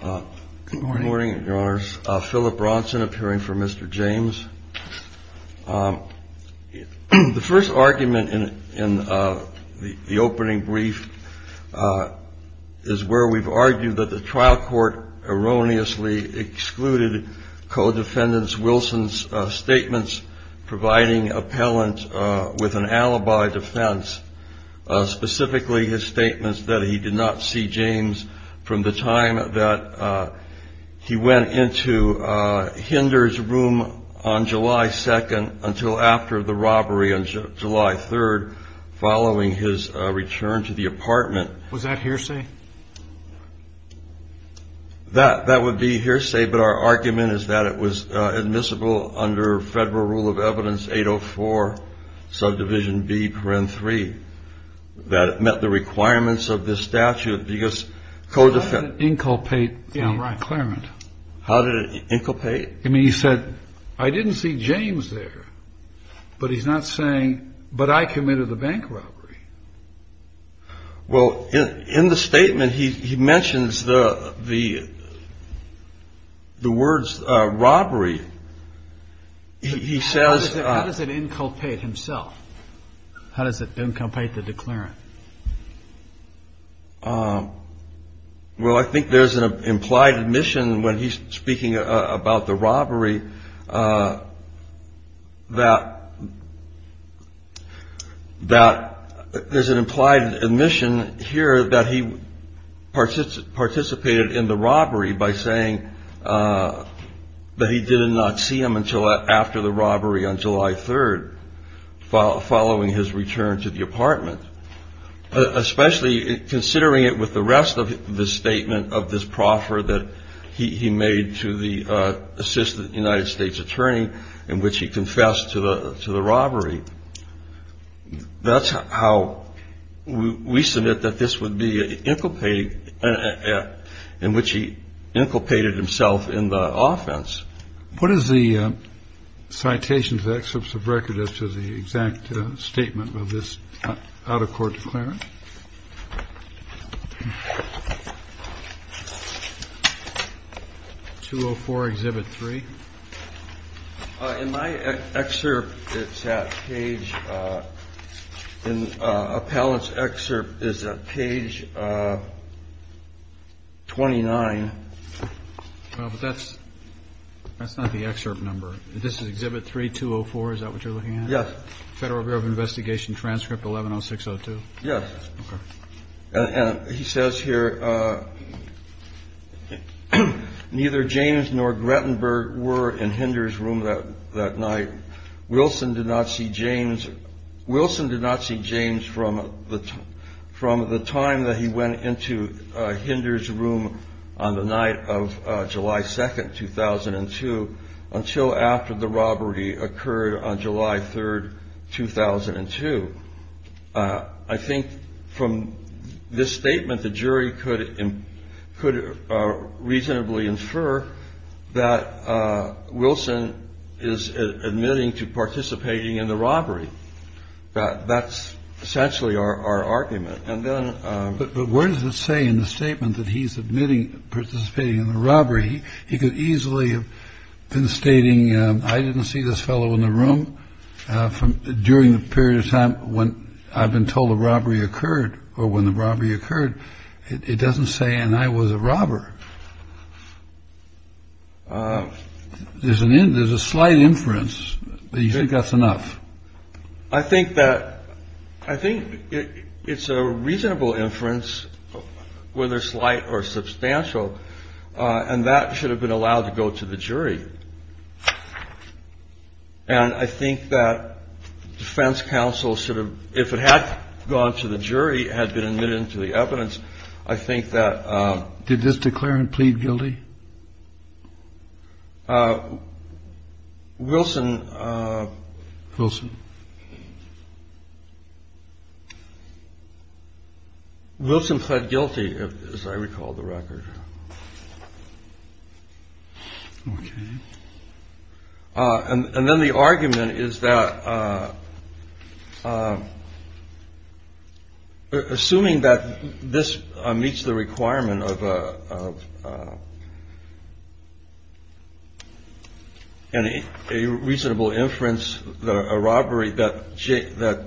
Good morning, your honors. Philip Bronson appearing for Mr. James. The first argument in the opening brief is where we've argued that the trial court erroneously excluded co-defendants Wilson's statements providing appellant with an alibi defense, specifically his statements that he did not see James from the time he was in the trial. The time that he went into Hinder's room on July 2nd until after the robbery on July 3rd following his return to the apartment. Was that hearsay? That would be hearsay, but our argument is that it was admissible under Federal Rule of Evidence 804 subdivision B. That it met the requirements of this statute because co-defendant inculpate the claimant. How did it inculpate? I mean, he said, I didn't see James there, but he's not saying, but I committed the bank robbery. Well, in the statement he mentions the words robbery. He says. How does it inculpate himself? How does it inculpate the declarant? Well, I think there's an implied admission when he's speaking about the robbery that there's an implied admission here that he participated in the robbery by saying that he did not see him until after the robbery on July 3rd following his return to the apartment. Especially considering it with the rest of the statement of this proffer that he made to the assistant United States attorney in which he confessed to the to the robbery. That's how we submit that this would be inculpated in which he inculpated himself in the offense. What is the citation of the excerpts of record as to the exact statement of this out-of-court declarant? 204 Exhibit 3. In my excerpt, it's at page in Appellant's excerpt is at page 29. That's that's not the excerpt number. This is Exhibit 3204. Is that what you're looking at? Yes. Federal Bureau of Investigation transcript 110602. Yes. And he says here, neither James nor Grettenberg were in Hinder's room that night. Wilson did not see James. Wilson did not see James from the time that he went into Hinder's room on the night of July 2nd, 2002, until after the robbery occurred on July 3rd, 2002. I think from this statement, the jury could could reasonably infer that Wilson is admitting to participating in the robbery. That's essentially our argument. And then. But where does it say in the statement that he's admitting participating in the robbery? He could easily have been stating I didn't see this fellow in the room from during the period of time when I've been told the robbery occurred or when the robbery occurred. It doesn't say. And I was a robber. There's an end. There's a slight inference that you think that's enough. I think that I think it's a reasonable inference, whether slight or substantial. And that should have been allowed to go to the jury. And I think that defense counsel should have, if it had gone to the jury, had been admitted to the evidence. I think that did this declare and plead guilty. Wilson Wilson Wilson pled guilty, as I recall, the record. OK. And then the argument is that. Assuming that this meets the requirement of any reasonable inference, that that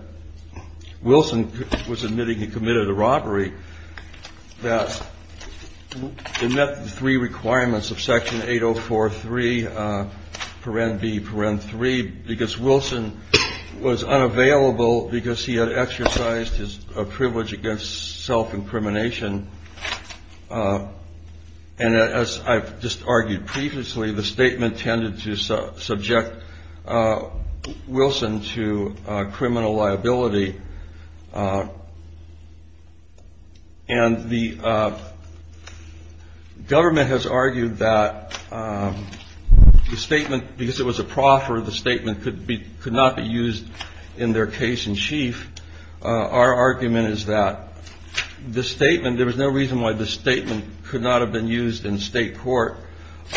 Wilson was admitting he committed a robbery that met the three requirements of Section 804, three, four and B, four and three, because Wilson was unavailable because he had exercised his privilege against self-incrimination. And as I've just argued previously, the statement tended to subject Wilson to criminal liability. And the government has argued that the statement, because it was a proffer, the statement could be could not be used in their case in chief. Our argument is that the statement, there was no reason why the statement could not have been used in state court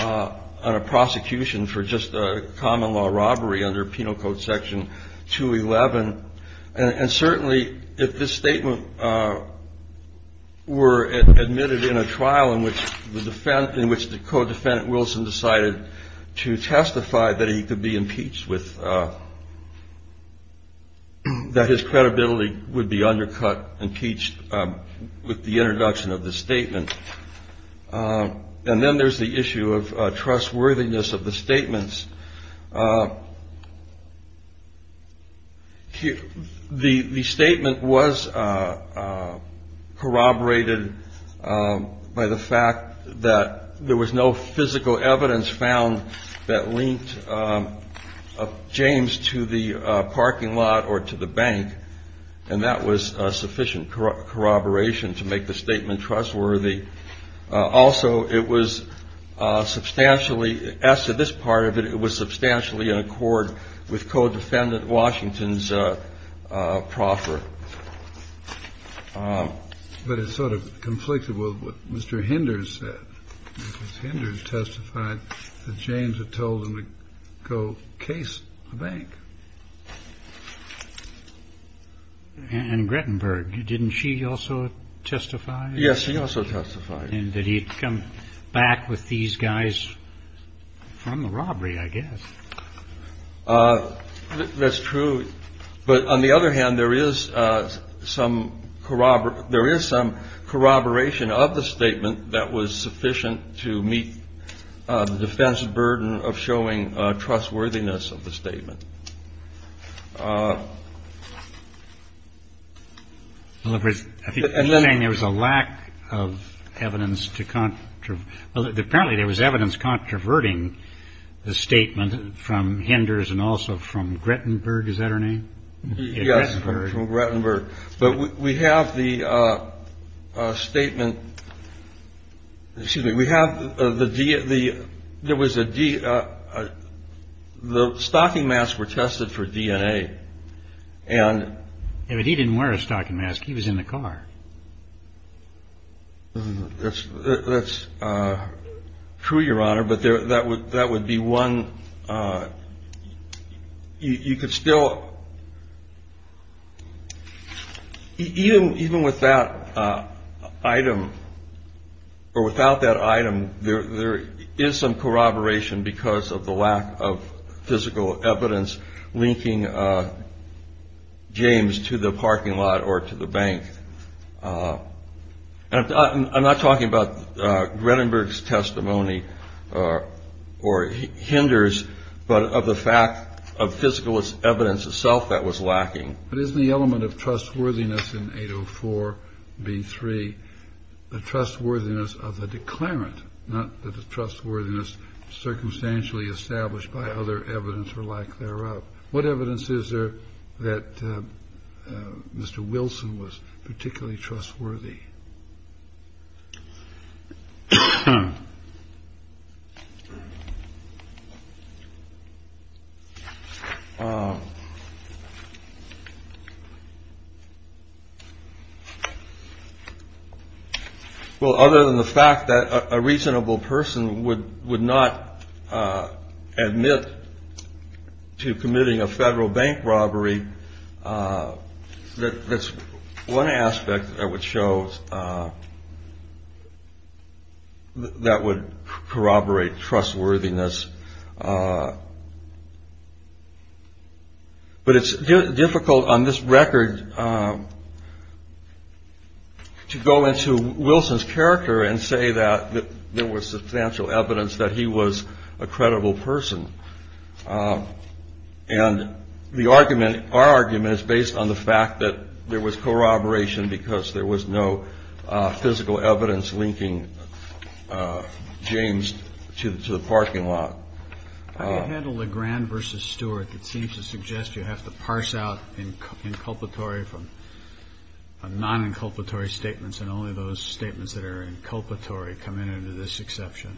on a prosecution for just a common law robbery under Penal Code Section 211. And certainly if this statement were admitted in a trial in which the defense, in which the codefendant Wilson decided to testify that he could be impeached with. That his credibility would be undercut impeached with the introduction of the statement. And then there's the issue of trustworthiness of the statements. The statement was corroborated by the fact that there was no physical evidence found that linked. James to the parking lot or to the bank. And that was sufficient corroboration to make the statement trustworthy. Also, it was substantially as to this part of it. It was substantially in accord with codefendant Washington's proffer. But it's sort of conflicted with what Mr. Henders said. Henders testified that James had told him to go case the bank. And Grettenberg, didn't she also testify? Yes, she also testified. And that he'd come back with these guys from the robbery, I guess. That's true. But on the other hand, there is some corroborate. There is some corroboration of the statement that was sufficient to meet the defense burden of showing trustworthiness of the statement. And then there was a lack of evidence to contrive. Well, apparently there was evidence controverting the statement from Henders and also from Grettenberg. Is that her name? Yes. From Grettenberg. But we have the statement. Excuse me. We have the D. The there was a D. The stocking masks were tested for DNA and he didn't wear a stocking mask. He was in the car. That's true, Your Honor. But that would that would be one. You could still even even with that item or without that item. There is some corroboration because of the lack of physical evidence linking James to the parking lot or to the bank. And I'm not talking about Grettenberg's testimony or hinders, but of the fact of physical evidence itself that was lacking. But isn't the element of trustworthiness in 804 B3 the trustworthiness of the declarant, not the trustworthiness circumstantially established by other evidence or lack thereof? What evidence is there that Mr. Wilson was particularly trustworthy? Well, other than the fact that a reasonable person would would not admit to committing a federal bank robbery. That's one aspect that would show that would corroborate trustworthiness. But it's difficult on this record to go into Wilson's character and say that there was substantial evidence that he was a credible person. And the argument, our argument is based on the fact that there was corroboration because there was no physical evidence linking James to the parking lot. How do you handle LeGrand versus Stewart? It seems to suggest you have to parse out inculpatory from non-inculpatory statements. And only those statements that are inculpatory come in under this exception.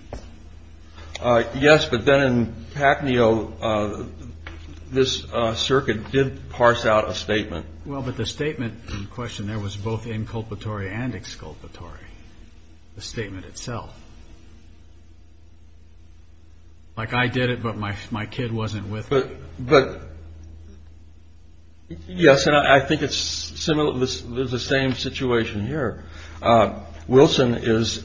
Yes. But then in Pacneo, this circuit did parse out a statement. Well, but the statement in question there was both inculpatory and exculpatory. The statement itself. Like I did it, but my my kid wasn't with it. But yes. And I think it's similar. This is the same situation here. Wilson is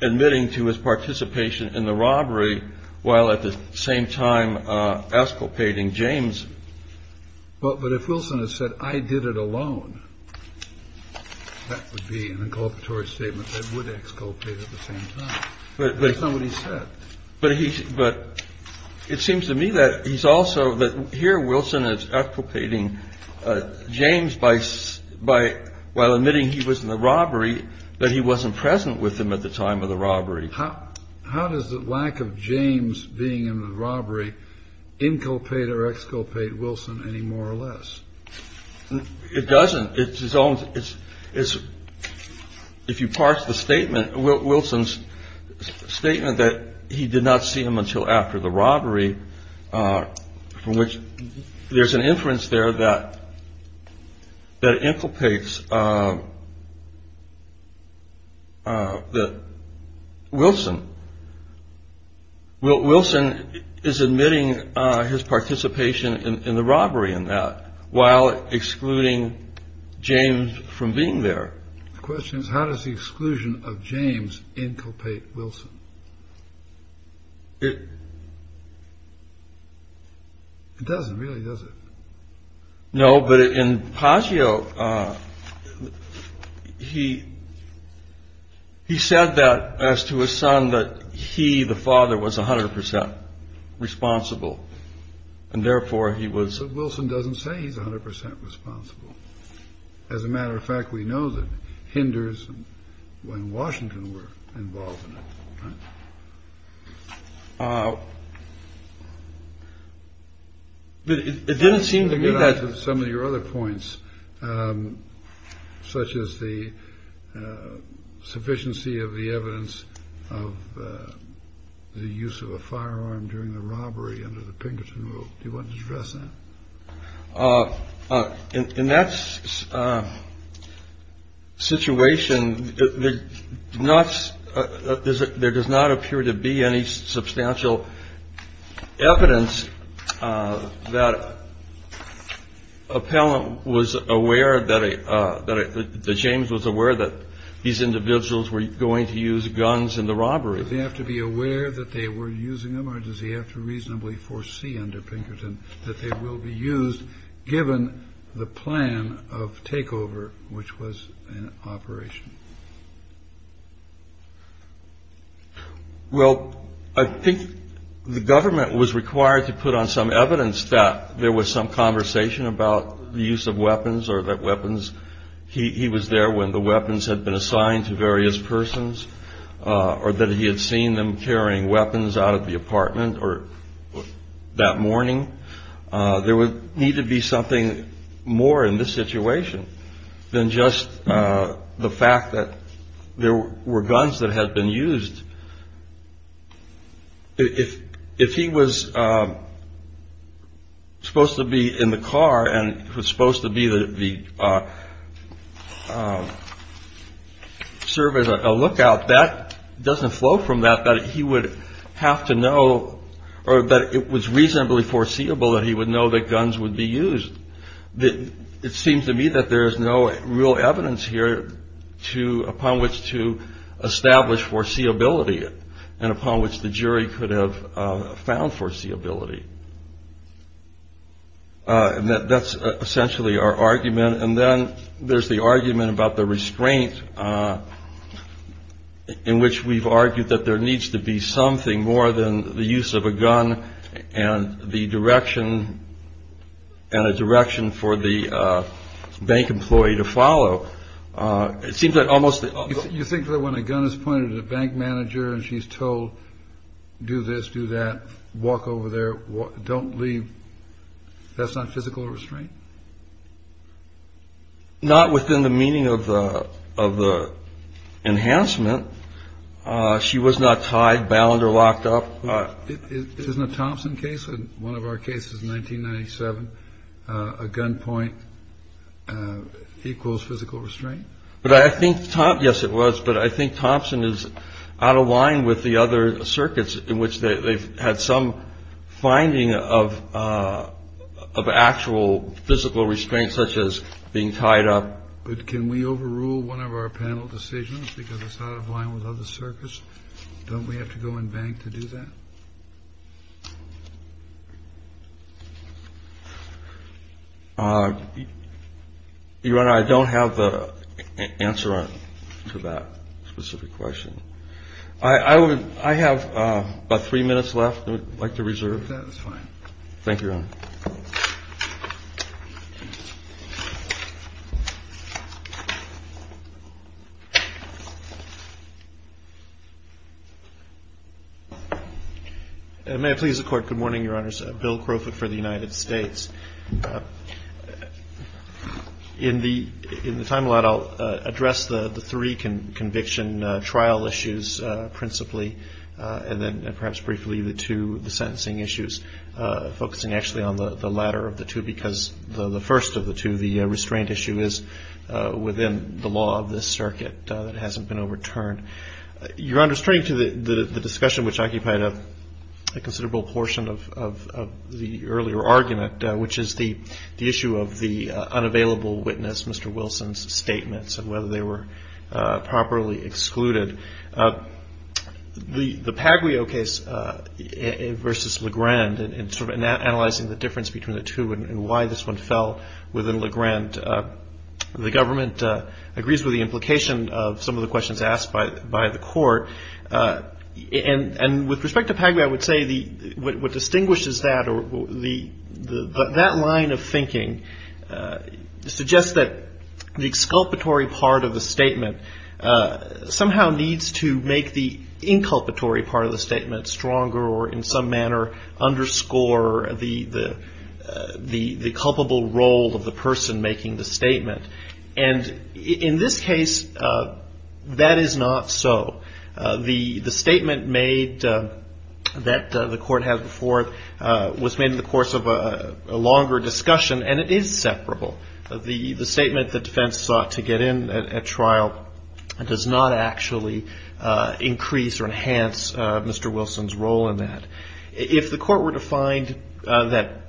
admitting to his participation in the robbery while at the same time escalating James. But but if Wilson has said I did it alone, that would be an inculpatory statement that would exculpate at the same time. But somebody said, but he but it seems to me that he's also here. Wilson is propagating James by by while admitting he was in the robbery, that he wasn't present with him at the time of the robbery. How does the lack of James being in the robbery inculpate or exculpate Wilson any more or less? It doesn't. It's his own. It's it's. If you parse the statement, Wilson's statement that he did not see him until after the robbery, from which there's an inference there that that inculpates. The Wilson. Wilson is admitting his participation in the robbery and that while excluding James from being there. The question is, how does the exclusion of James inculpate Wilson? It. It doesn't really, does it? No. But in Pazio, he. He said that as to his son, that he, the father, was 100 percent responsible and therefore he was. Wilson doesn't say he's 100 percent responsible. As a matter of fact, we know that hinders when Washington were involved. It didn't seem to me that some of your other points, such as the sufficiency of the evidence of the use of a firearm during the robbery. Under the Pinkerton rule. Do you want to address that in that situation? The nuts. There does not appear to be any substantial evidence that appellant was aware that the James was aware that these individuals were going to use guns in the robbery. They have to be aware that they were using them or does he have to reasonably foresee under Pinkerton that they will be used given the plan of takeover, which was an operation? Well, I think the government was required to put on some evidence that there was some conversation about the use of weapons or that weapons. He was there when the weapons had been assigned to various persons or that he had seen them carrying weapons out of the apartment or that morning. There would need to be something more in this situation than just the fact that there were guns that had been used. If if he was supposed to be in the car and was supposed to be the service, a lookout that doesn't flow from that, that he would have to know or that it was reasonably foreseeable that he would know that guns would be used. It seems to me that there is no real evidence here to upon which to establish foreseeability and upon which the jury could have found foreseeability. And that's essentially our argument. And then there's the argument about the restraint in which we've argued that there needs to be something more than the use of a gun and the direction and a direction for the bank employee to follow. It seems that almost you think that when a gun is pointed at a bank manager and she's told, do this, do that, walk over there. Don't leave. That's not physical restraint. Not within the meaning of the of the enhancement. She was not tied down or locked up in a Thompson case. And one of our cases, 1997, a gun point equals physical restraint. But I think. Yes, it was. But I think Thompson is out of line with the other circuits in which they've had some finding of of actual physical restraint, such as being tied up. But can we overrule one of our panel decisions because it's out of line with other circuits? Don't we have to go and bank to do that? You and I don't have the answer to that specific question. I would I have about three minutes left. I'd like to reserve. That's fine. Thank you, Your Honor. May it please the Court. Good morning, Your Honors. Bill Crawford for the United States. In the in the time allowed, I'll address the three conviction trial issues principally and then perhaps briefly the two sentencing issues focusing actually on the latter of the two, because the first of the two, the restraint issue is within the law of this circuit that hasn't been overturned. Your Honor, straight to the discussion which occupied a considerable portion of the earlier argument, which is the issue of the unavailable witness, Mr. Wilson's statements and whether they were properly excluded. The Paglio case versus LeGrand and sort of analyzing the difference between the two and why this one fell within LeGrand, the government agrees with the implication of some of the questions asked by by the court. And with respect to Paglio, I would say the what distinguishes that or the that line of thinking suggests that the exculpatory part of the statement somehow needs to make the inculpatory part of the statement stronger or in some manner underscore the the the culpable role of the person making the statement. And in this case, that is not so. The the statement made that the court has before was made in the course of a longer discussion and it is separable. The statement that defense sought to get in at trial does not actually increase or enhance Mr. Wilson's role in that. If the court were to find that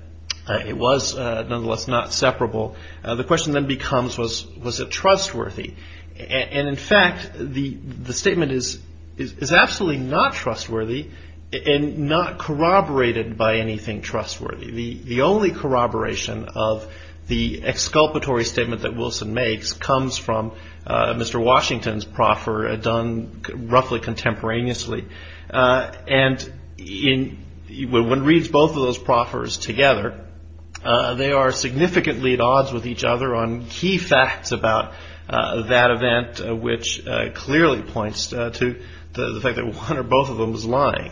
it was nonetheless not separable, the question then becomes was was it trustworthy? And in fact, the statement is is absolutely not trustworthy and not corroborated by anything trustworthy. The only corroboration of the exculpatory statement that Wilson makes comes from Mr. Washington's proffer done roughly contemporaneously. And in when reads both of those proffers together, they are significantly at odds with each other on key facts about that event, which clearly points to the fact that one or both of them is lying.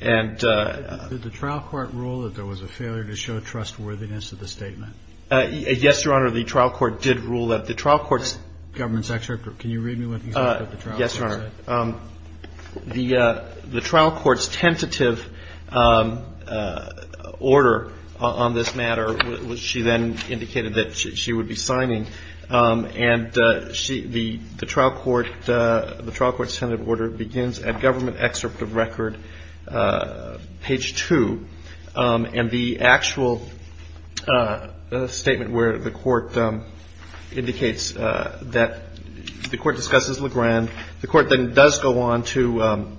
And the trial court ruled that there was a failure to show trustworthiness of the statement. Yes, Your Honor. The trial court did rule that the trial court's government sector. Yes, Your Honor. The the trial court's tentative order on this matter, which she then indicated that she would be signing and she the trial court, the trial court Senate order begins at government excerpt of record page two. And the actual statement where the court indicates that the court discusses LeGrand. And the court then does go on to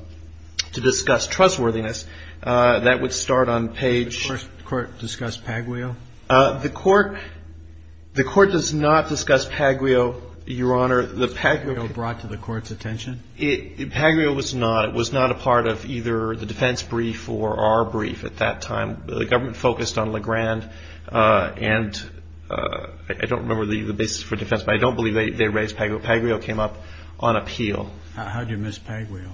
to discuss trustworthiness. That would start on page. The court discussed Paglio. The court the court does not discuss Paglio, Your Honor. Paglio brought to the court's attention. Paglio was not it was not a part of either the defense brief or our brief at that time. The government focused on LeGrand and I don't remember the basis for defense, but I don't believe they raised Paglio. Paglio came up on appeal. How do you miss Paglio?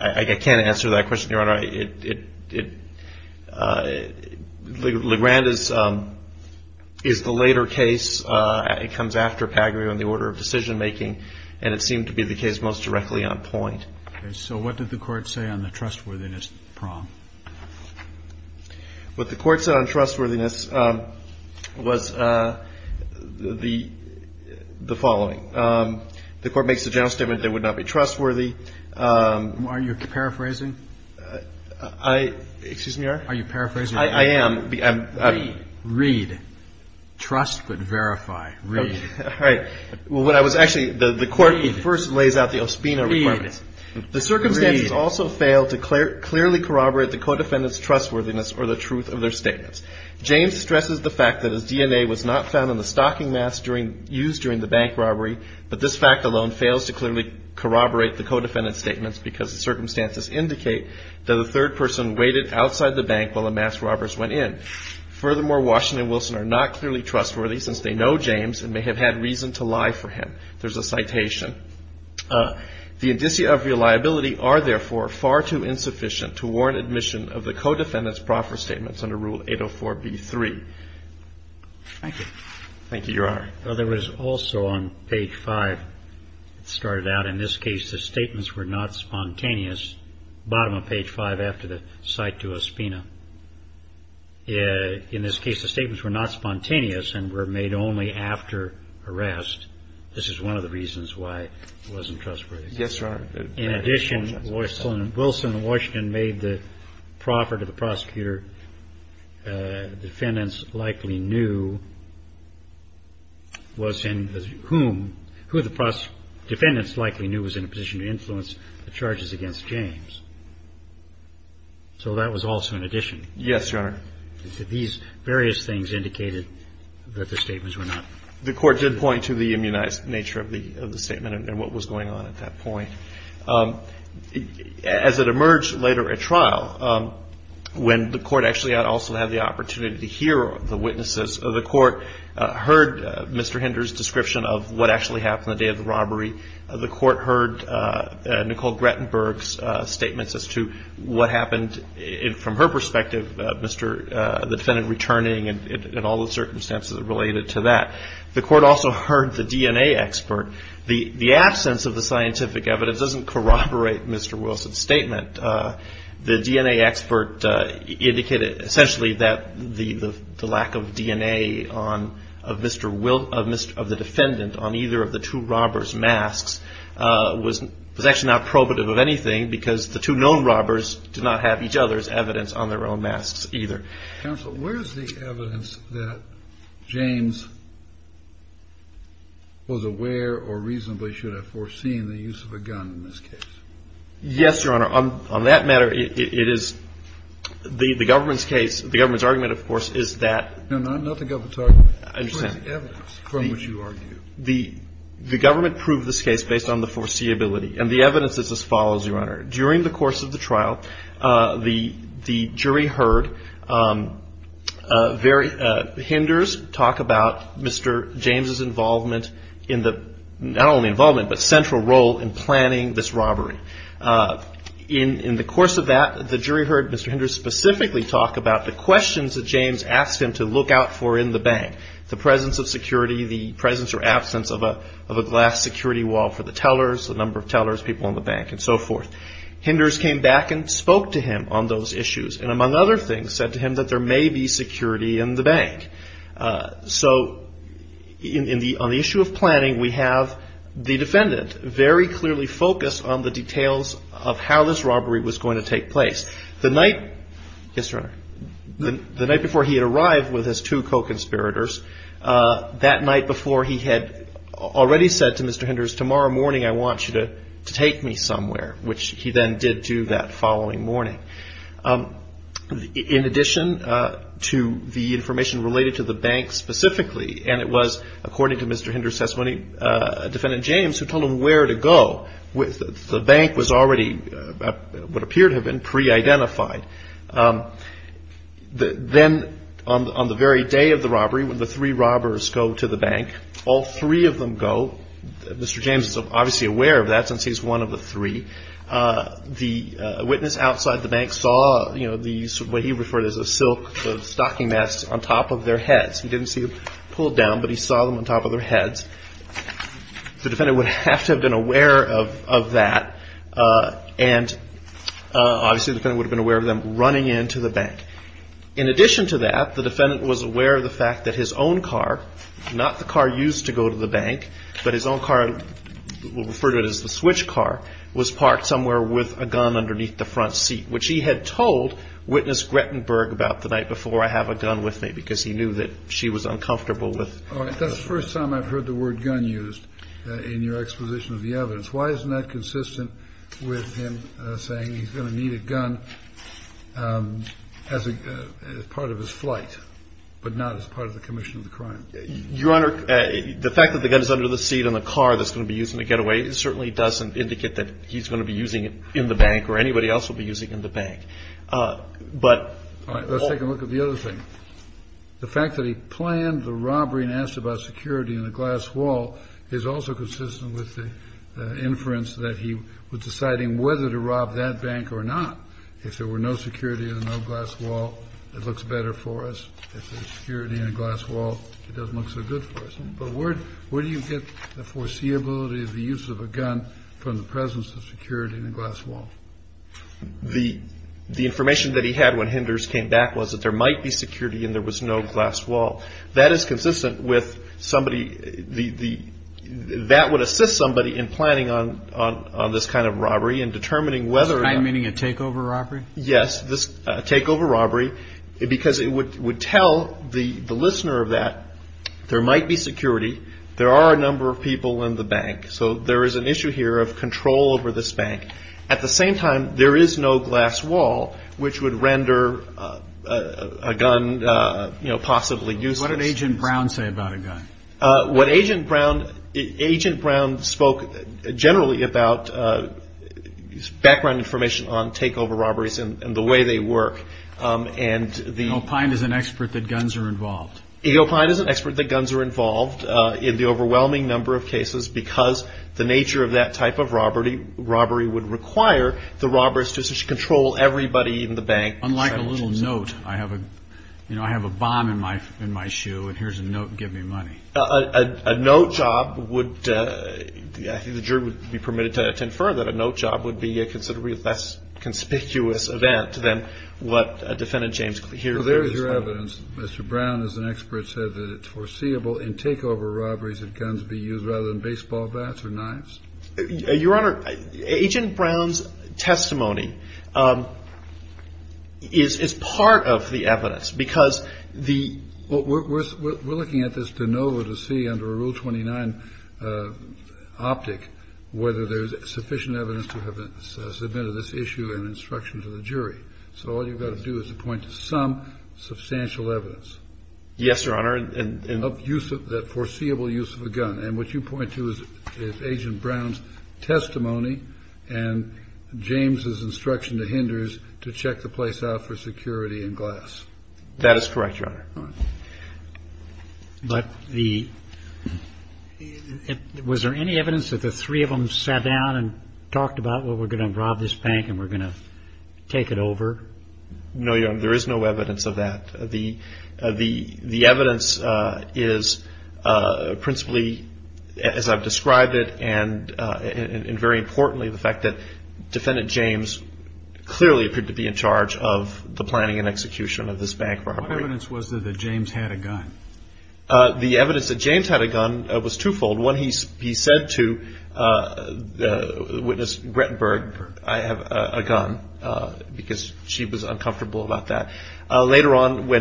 I can't answer that question, Your Honor. It LeGrand is is the later case. It comes after Paglio in the order of decision making. And it seemed to be the case most directly on point. So what did the court say on the trustworthiness problem? What the court said on trustworthiness was the following. The court makes a general statement that would not be trustworthy. Are you paraphrasing? I excuse me, Your Honor. Are you paraphrasing? I am. Read. Read. Trust but verify. Read. Well, when I was actually the court first lays out the OSPINA requirements. Read. The circumstances also fail to clearly corroborate the co-defendant's trustworthiness or the truth of their statements. James stresses the fact that his DNA was not found in the stocking masks used during the bank robbery, but this fact alone fails to clearly corroborate the co-defendant's statements because the circumstances indicate that a third person waited outside the bank while the masked robbers went in. Furthermore, Washington and Wilson are not clearly trustworthy since they know James and may have had reason to lie for him. There's a citation. The indicia of reliability are, therefore, far too insufficient to warrant admission of the co-defendant's proffer statements under Rule 804B3. Thank you. Thank you, Your Honor. Well, there was also on page 5, it started out, in this case, the statements were not spontaneous, bottom of page 5 after the cite to OSPINA. In this case, the statements were not spontaneous and were made only after arrest. This is one of the reasons why it wasn't trustworthy. Yes, Your Honor. In addition, Wilson and Washington made the proffer to the prosecutor defendants likely knew was in whom who the defendants likely knew was in a position to influence the charges against James. So that was also an addition. Yes, Your Honor. These various things indicated that the statements were not spontaneous. The Court did point to the immunized nature of the statement and what was going on at that point. As it emerged later at trial, when the Court actually also had the opportunity to hear the witnesses, the Court heard Mr. Hinder's description of what actually happened on the day of the robbery. The Court heard Nicole Grettenberg's statements as to what happened from her perspective, the defendant returning and all the circumstances related to that. The Court also heard the DNA expert. The absence of the scientific evidence doesn't corroborate Mr. Wilson's statement. The DNA expert indicated essentially that the lack of DNA of Mr. Wilson, of the defendant on either of the two robbers' masks was actually not probative of anything because the two known robbers did not have each other's evidence on their own masks either. Counsel, where is the evidence that James was aware or reasonably should have foreseen the use of a gun in this case? Yes, Your Honor. On that matter, it is the government's case. The government's argument, of course, is that. No, not the government's argument. I understand. Where is the evidence from which you argue? The government proved this case based on the foreseeability. And the evidence is as follows, Your Honor. During the course of the trial, the jury heard Henders talk about Mr. James' involvement in the, not only involvement but central role in planning this robbery. In the course of that, the jury heard Mr. Henders specifically talk about the questions that James asked him to look out for in the bank, the presence of security, the presence or absence of a glass security wall for the tellers, the number of tellers, people in the bank, and so forth. Henders came back and spoke to him on those issues and, among other things, said to him that there may be security in the bank. So on the issue of planning, we have the defendant very clearly focused on the details of how this robbery was going to take place. The night before he had arrived with his two co-conspirators, that night before he had already said to Mr. Henders, tomorrow morning I want you to take me somewhere, which he then did do that following morning. In addition to the information related to the bank specifically, and it was, according to Mr. Henders' testimony, Defendant James who told him where to go, the bank was already what appeared to have been pre-identified. Then on the very day of the robbery, when the three robbers go to the bank, all three of them go, Mr. James is obviously aware of that since he's one of the three. The witness outside the bank saw what he referred to as a silk stocking mask on top of their heads. He didn't see it pulled down, but he saw them on top of their heads. The defendant would have to have been aware of that. Obviously the defendant would have been aware of them running into the bank. In addition to that, the defendant was aware of the fact that his own car, not the car used to go to the bank, but his own car, we'll refer to it as the switch car, was parked somewhere with a gun underneath the front seat, which he had told Witness Grettenberg about the night before, I have a gun with me because he knew that she was uncomfortable with it. That's the first time I've heard the word gun used in your exposition of the evidence. Why isn't that consistent with him saying he's going to need a gun as part of his flight, but not as part of the commission of the crime? Your Honor, the fact that the gun is under the seat in the car that's going to be used in the getaway certainly doesn't indicate that he's going to be using it in the bank or anybody else will be using it in the bank. All right. Let's take a look at the other thing. The fact that he planned the robbery and asked about security in a glass wall is also consistent with the inference that he was deciding whether to rob that bank or not. If there were no security and no glass wall, it looks better for us. If there's security in a glass wall, it doesn't look so good for us. But where do you get the foreseeability of the use of a gun from the presence of security in a glass wall? The information that he had when Henders came back was that there might be security and there was no glass wall. That is consistent with somebody, that would assist somebody in planning on this kind of robbery and determining whether. You mean a takeover robbery? Yes, a takeover robbery because it would tell the listener of that there might be security. There are a number of people in the bank. So there is an issue here of control over this bank. At the same time, there is no glass wall which would render a gun possibly useless. What did Agent Brown say about a gun? Agent Brown spoke generally about background information on takeover robberies and the way they work. Ego Pine is an expert that guns are involved. Ego Pine is an expert that guns are involved in the overwhelming number of cases because the nature of that type of robbery would require the robbers to control everybody in the bank. Unlike a little note. I have a bomb in my shoe and here's a note, give me money. A note job would, I think the jury would be permitted to infer that a note job would be a considerably less conspicuous event than what Defendant James here. There is your evidence. Mr. Brown, as an expert, said that it's foreseeable in takeover robberies that guns be used rather than baseball bats or knives. Your Honor, Agent Brown's testimony is part of the evidence because the. We're looking at this de novo to see under a Rule 29 optic whether there's sufficient evidence to have submitted this issue and instruction to the jury. So all you've got to do is point to some substantial evidence. Yes, Your Honor. And use of that foreseeable use of a gun. And what you point to is Agent Brown's testimony and James's instruction to hinders to check the place out for security and glass. That is correct, Your Honor. But the. Was there any evidence that the three of them sat down and talked about what we're going to rob this bank and we're going to take it over? No, Your Honor, there is no evidence of that. The evidence is principally, as I've described it, and very importantly, the fact that Defendant James clearly appeared to be in charge of the planning and execution of this bank robbery. What evidence was there that James had a gun? The evidence that James had a gun was twofold. One, he said to Witness Grettenberg, I have a gun, because she was uncomfortable about that. Later on,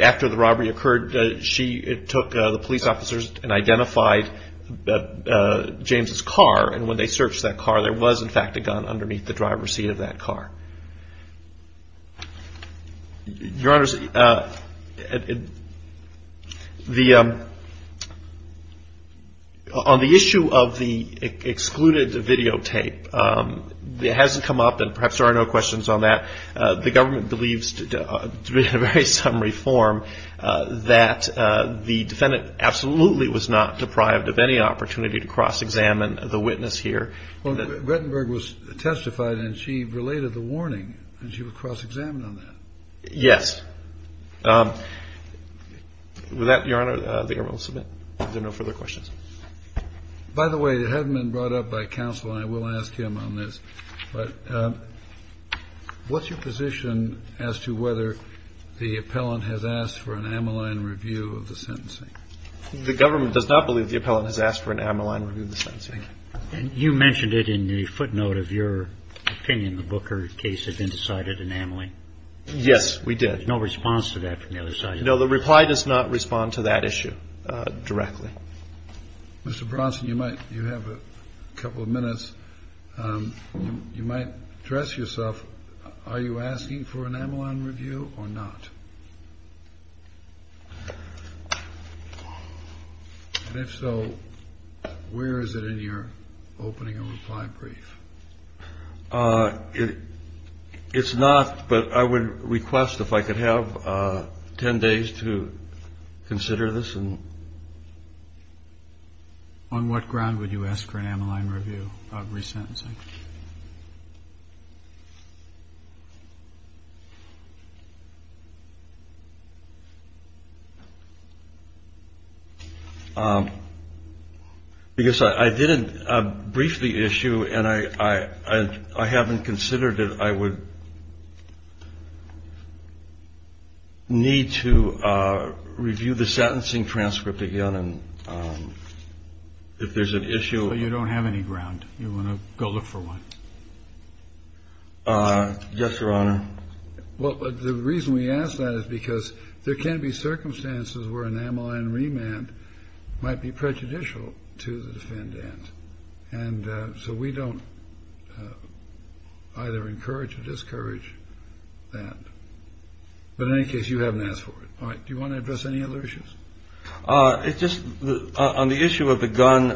after the robbery occurred, she took the police officers and identified James's car. And when they searched that car, there was, in fact, a gun underneath the driver's seat of that car. Your Honor, the ‑‑ on the issue of the excluded videotape, it hasn't come up, and perhaps there are no questions on that. The government believes, in a very summary form, that the defendant absolutely was not deprived of any opportunity to cross-examine the witness here. Well, Grettenberg was testified, and she related the warning, and she was cross-examined on that. Yes. With that, Your Honor, the government will submit. If there are no further questions. By the way, it hasn't been brought up by counsel, and I will ask him on this, but what's your position as to whether the appellant has asked for an amyline review of the sentencing? The government does not believe the appellant has asked for an amyline review of the sentencing. Thank you. And you mentioned it in the footnote of your opinion, the Booker case of indecided anamly. Yes, we did. There's no response to that from the other side. No, the reply does not respond to that issue directly. Mr. Bronson, you might ‑‑ you have a couple of minutes. You might address yourself, are you asking for an amyline review or not? And if so, where is it in your opening and reply brief? It's not, but I would request, if I could have 10 days to consider this. On what ground would you ask for an amyline review of resentencing? Because I did a briefly issue, and I haven't considered it. I would need to review the sentencing transcript again, and if there's an issue ‑‑ Well, you don't have any ground. Yes, Your Honor. Well, the reason we ask that is because there can be circumstances where an amyline remand might be prejudicial to the defendant. And so we don't either encourage or discourage that. But in any case, you haven't asked for it. All right. Do you want to address any other issues? Just on the issue of the gun,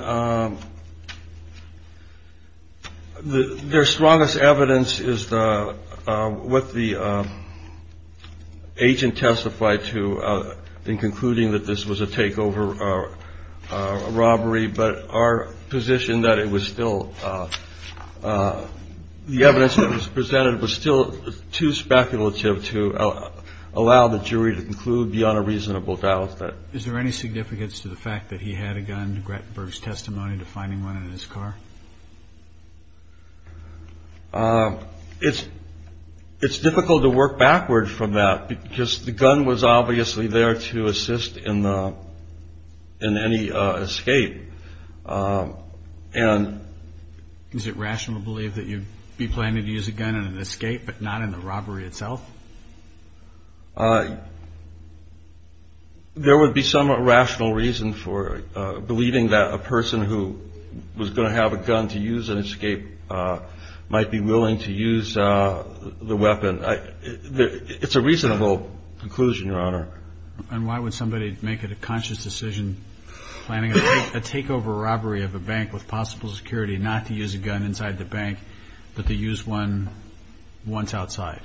their strongest evidence is what the agent testified to in concluding that this was a takeover robbery. But our position that it was still ‑‑ the evidence that was presented was still too speculative to allow the jury to conclude beyond a reasonable doubt. Is there any significance to the fact that he had a gun, to Grettenberg's testimony, to finding one in his car? It's difficult to work backward from that, because the gun was obviously there to assist in any escape. And is it rational to believe that you'd be planning to use a gun in an escape but not in the robbery itself? There would be some rational reason for believing that a person who was going to have a gun to use in an escape might be willing to use the weapon. It's a reasonable conclusion, Your Honor. And why would somebody make a conscious decision planning a takeover robbery of a bank with possible security not to use a gun inside the bank but to use one once outside?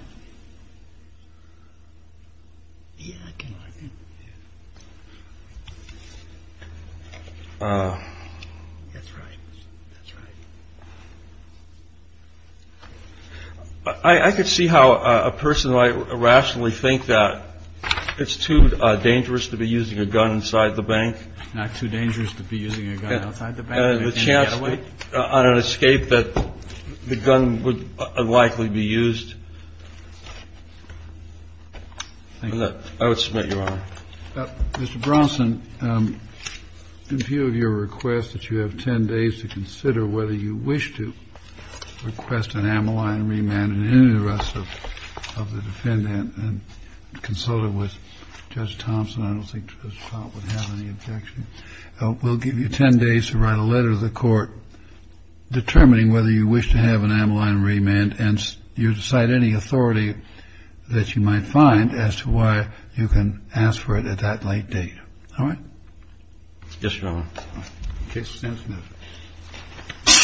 I could see how a person might rationally think that it's too dangerous to be using a gun inside the bank. Not too dangerous to be using a gun outside the bank? The chance on an escape that the gun would unlikely be used? I would submit, Your Honor. Mr. Bronson, in view of your request that you have 10 days to consider whether you wish to request an ammo line remand in any arrest of the defendant and consult it with Judge Thompson, I don't think Judge Thompson would have any objection. We'll give you 10 days to write a letter to the court determining whether you wish to have an ammo line remand and you decide any authority that you might find as to why you can ask for it at that late date. All right? Yes, Your Honor. Case is dismissed.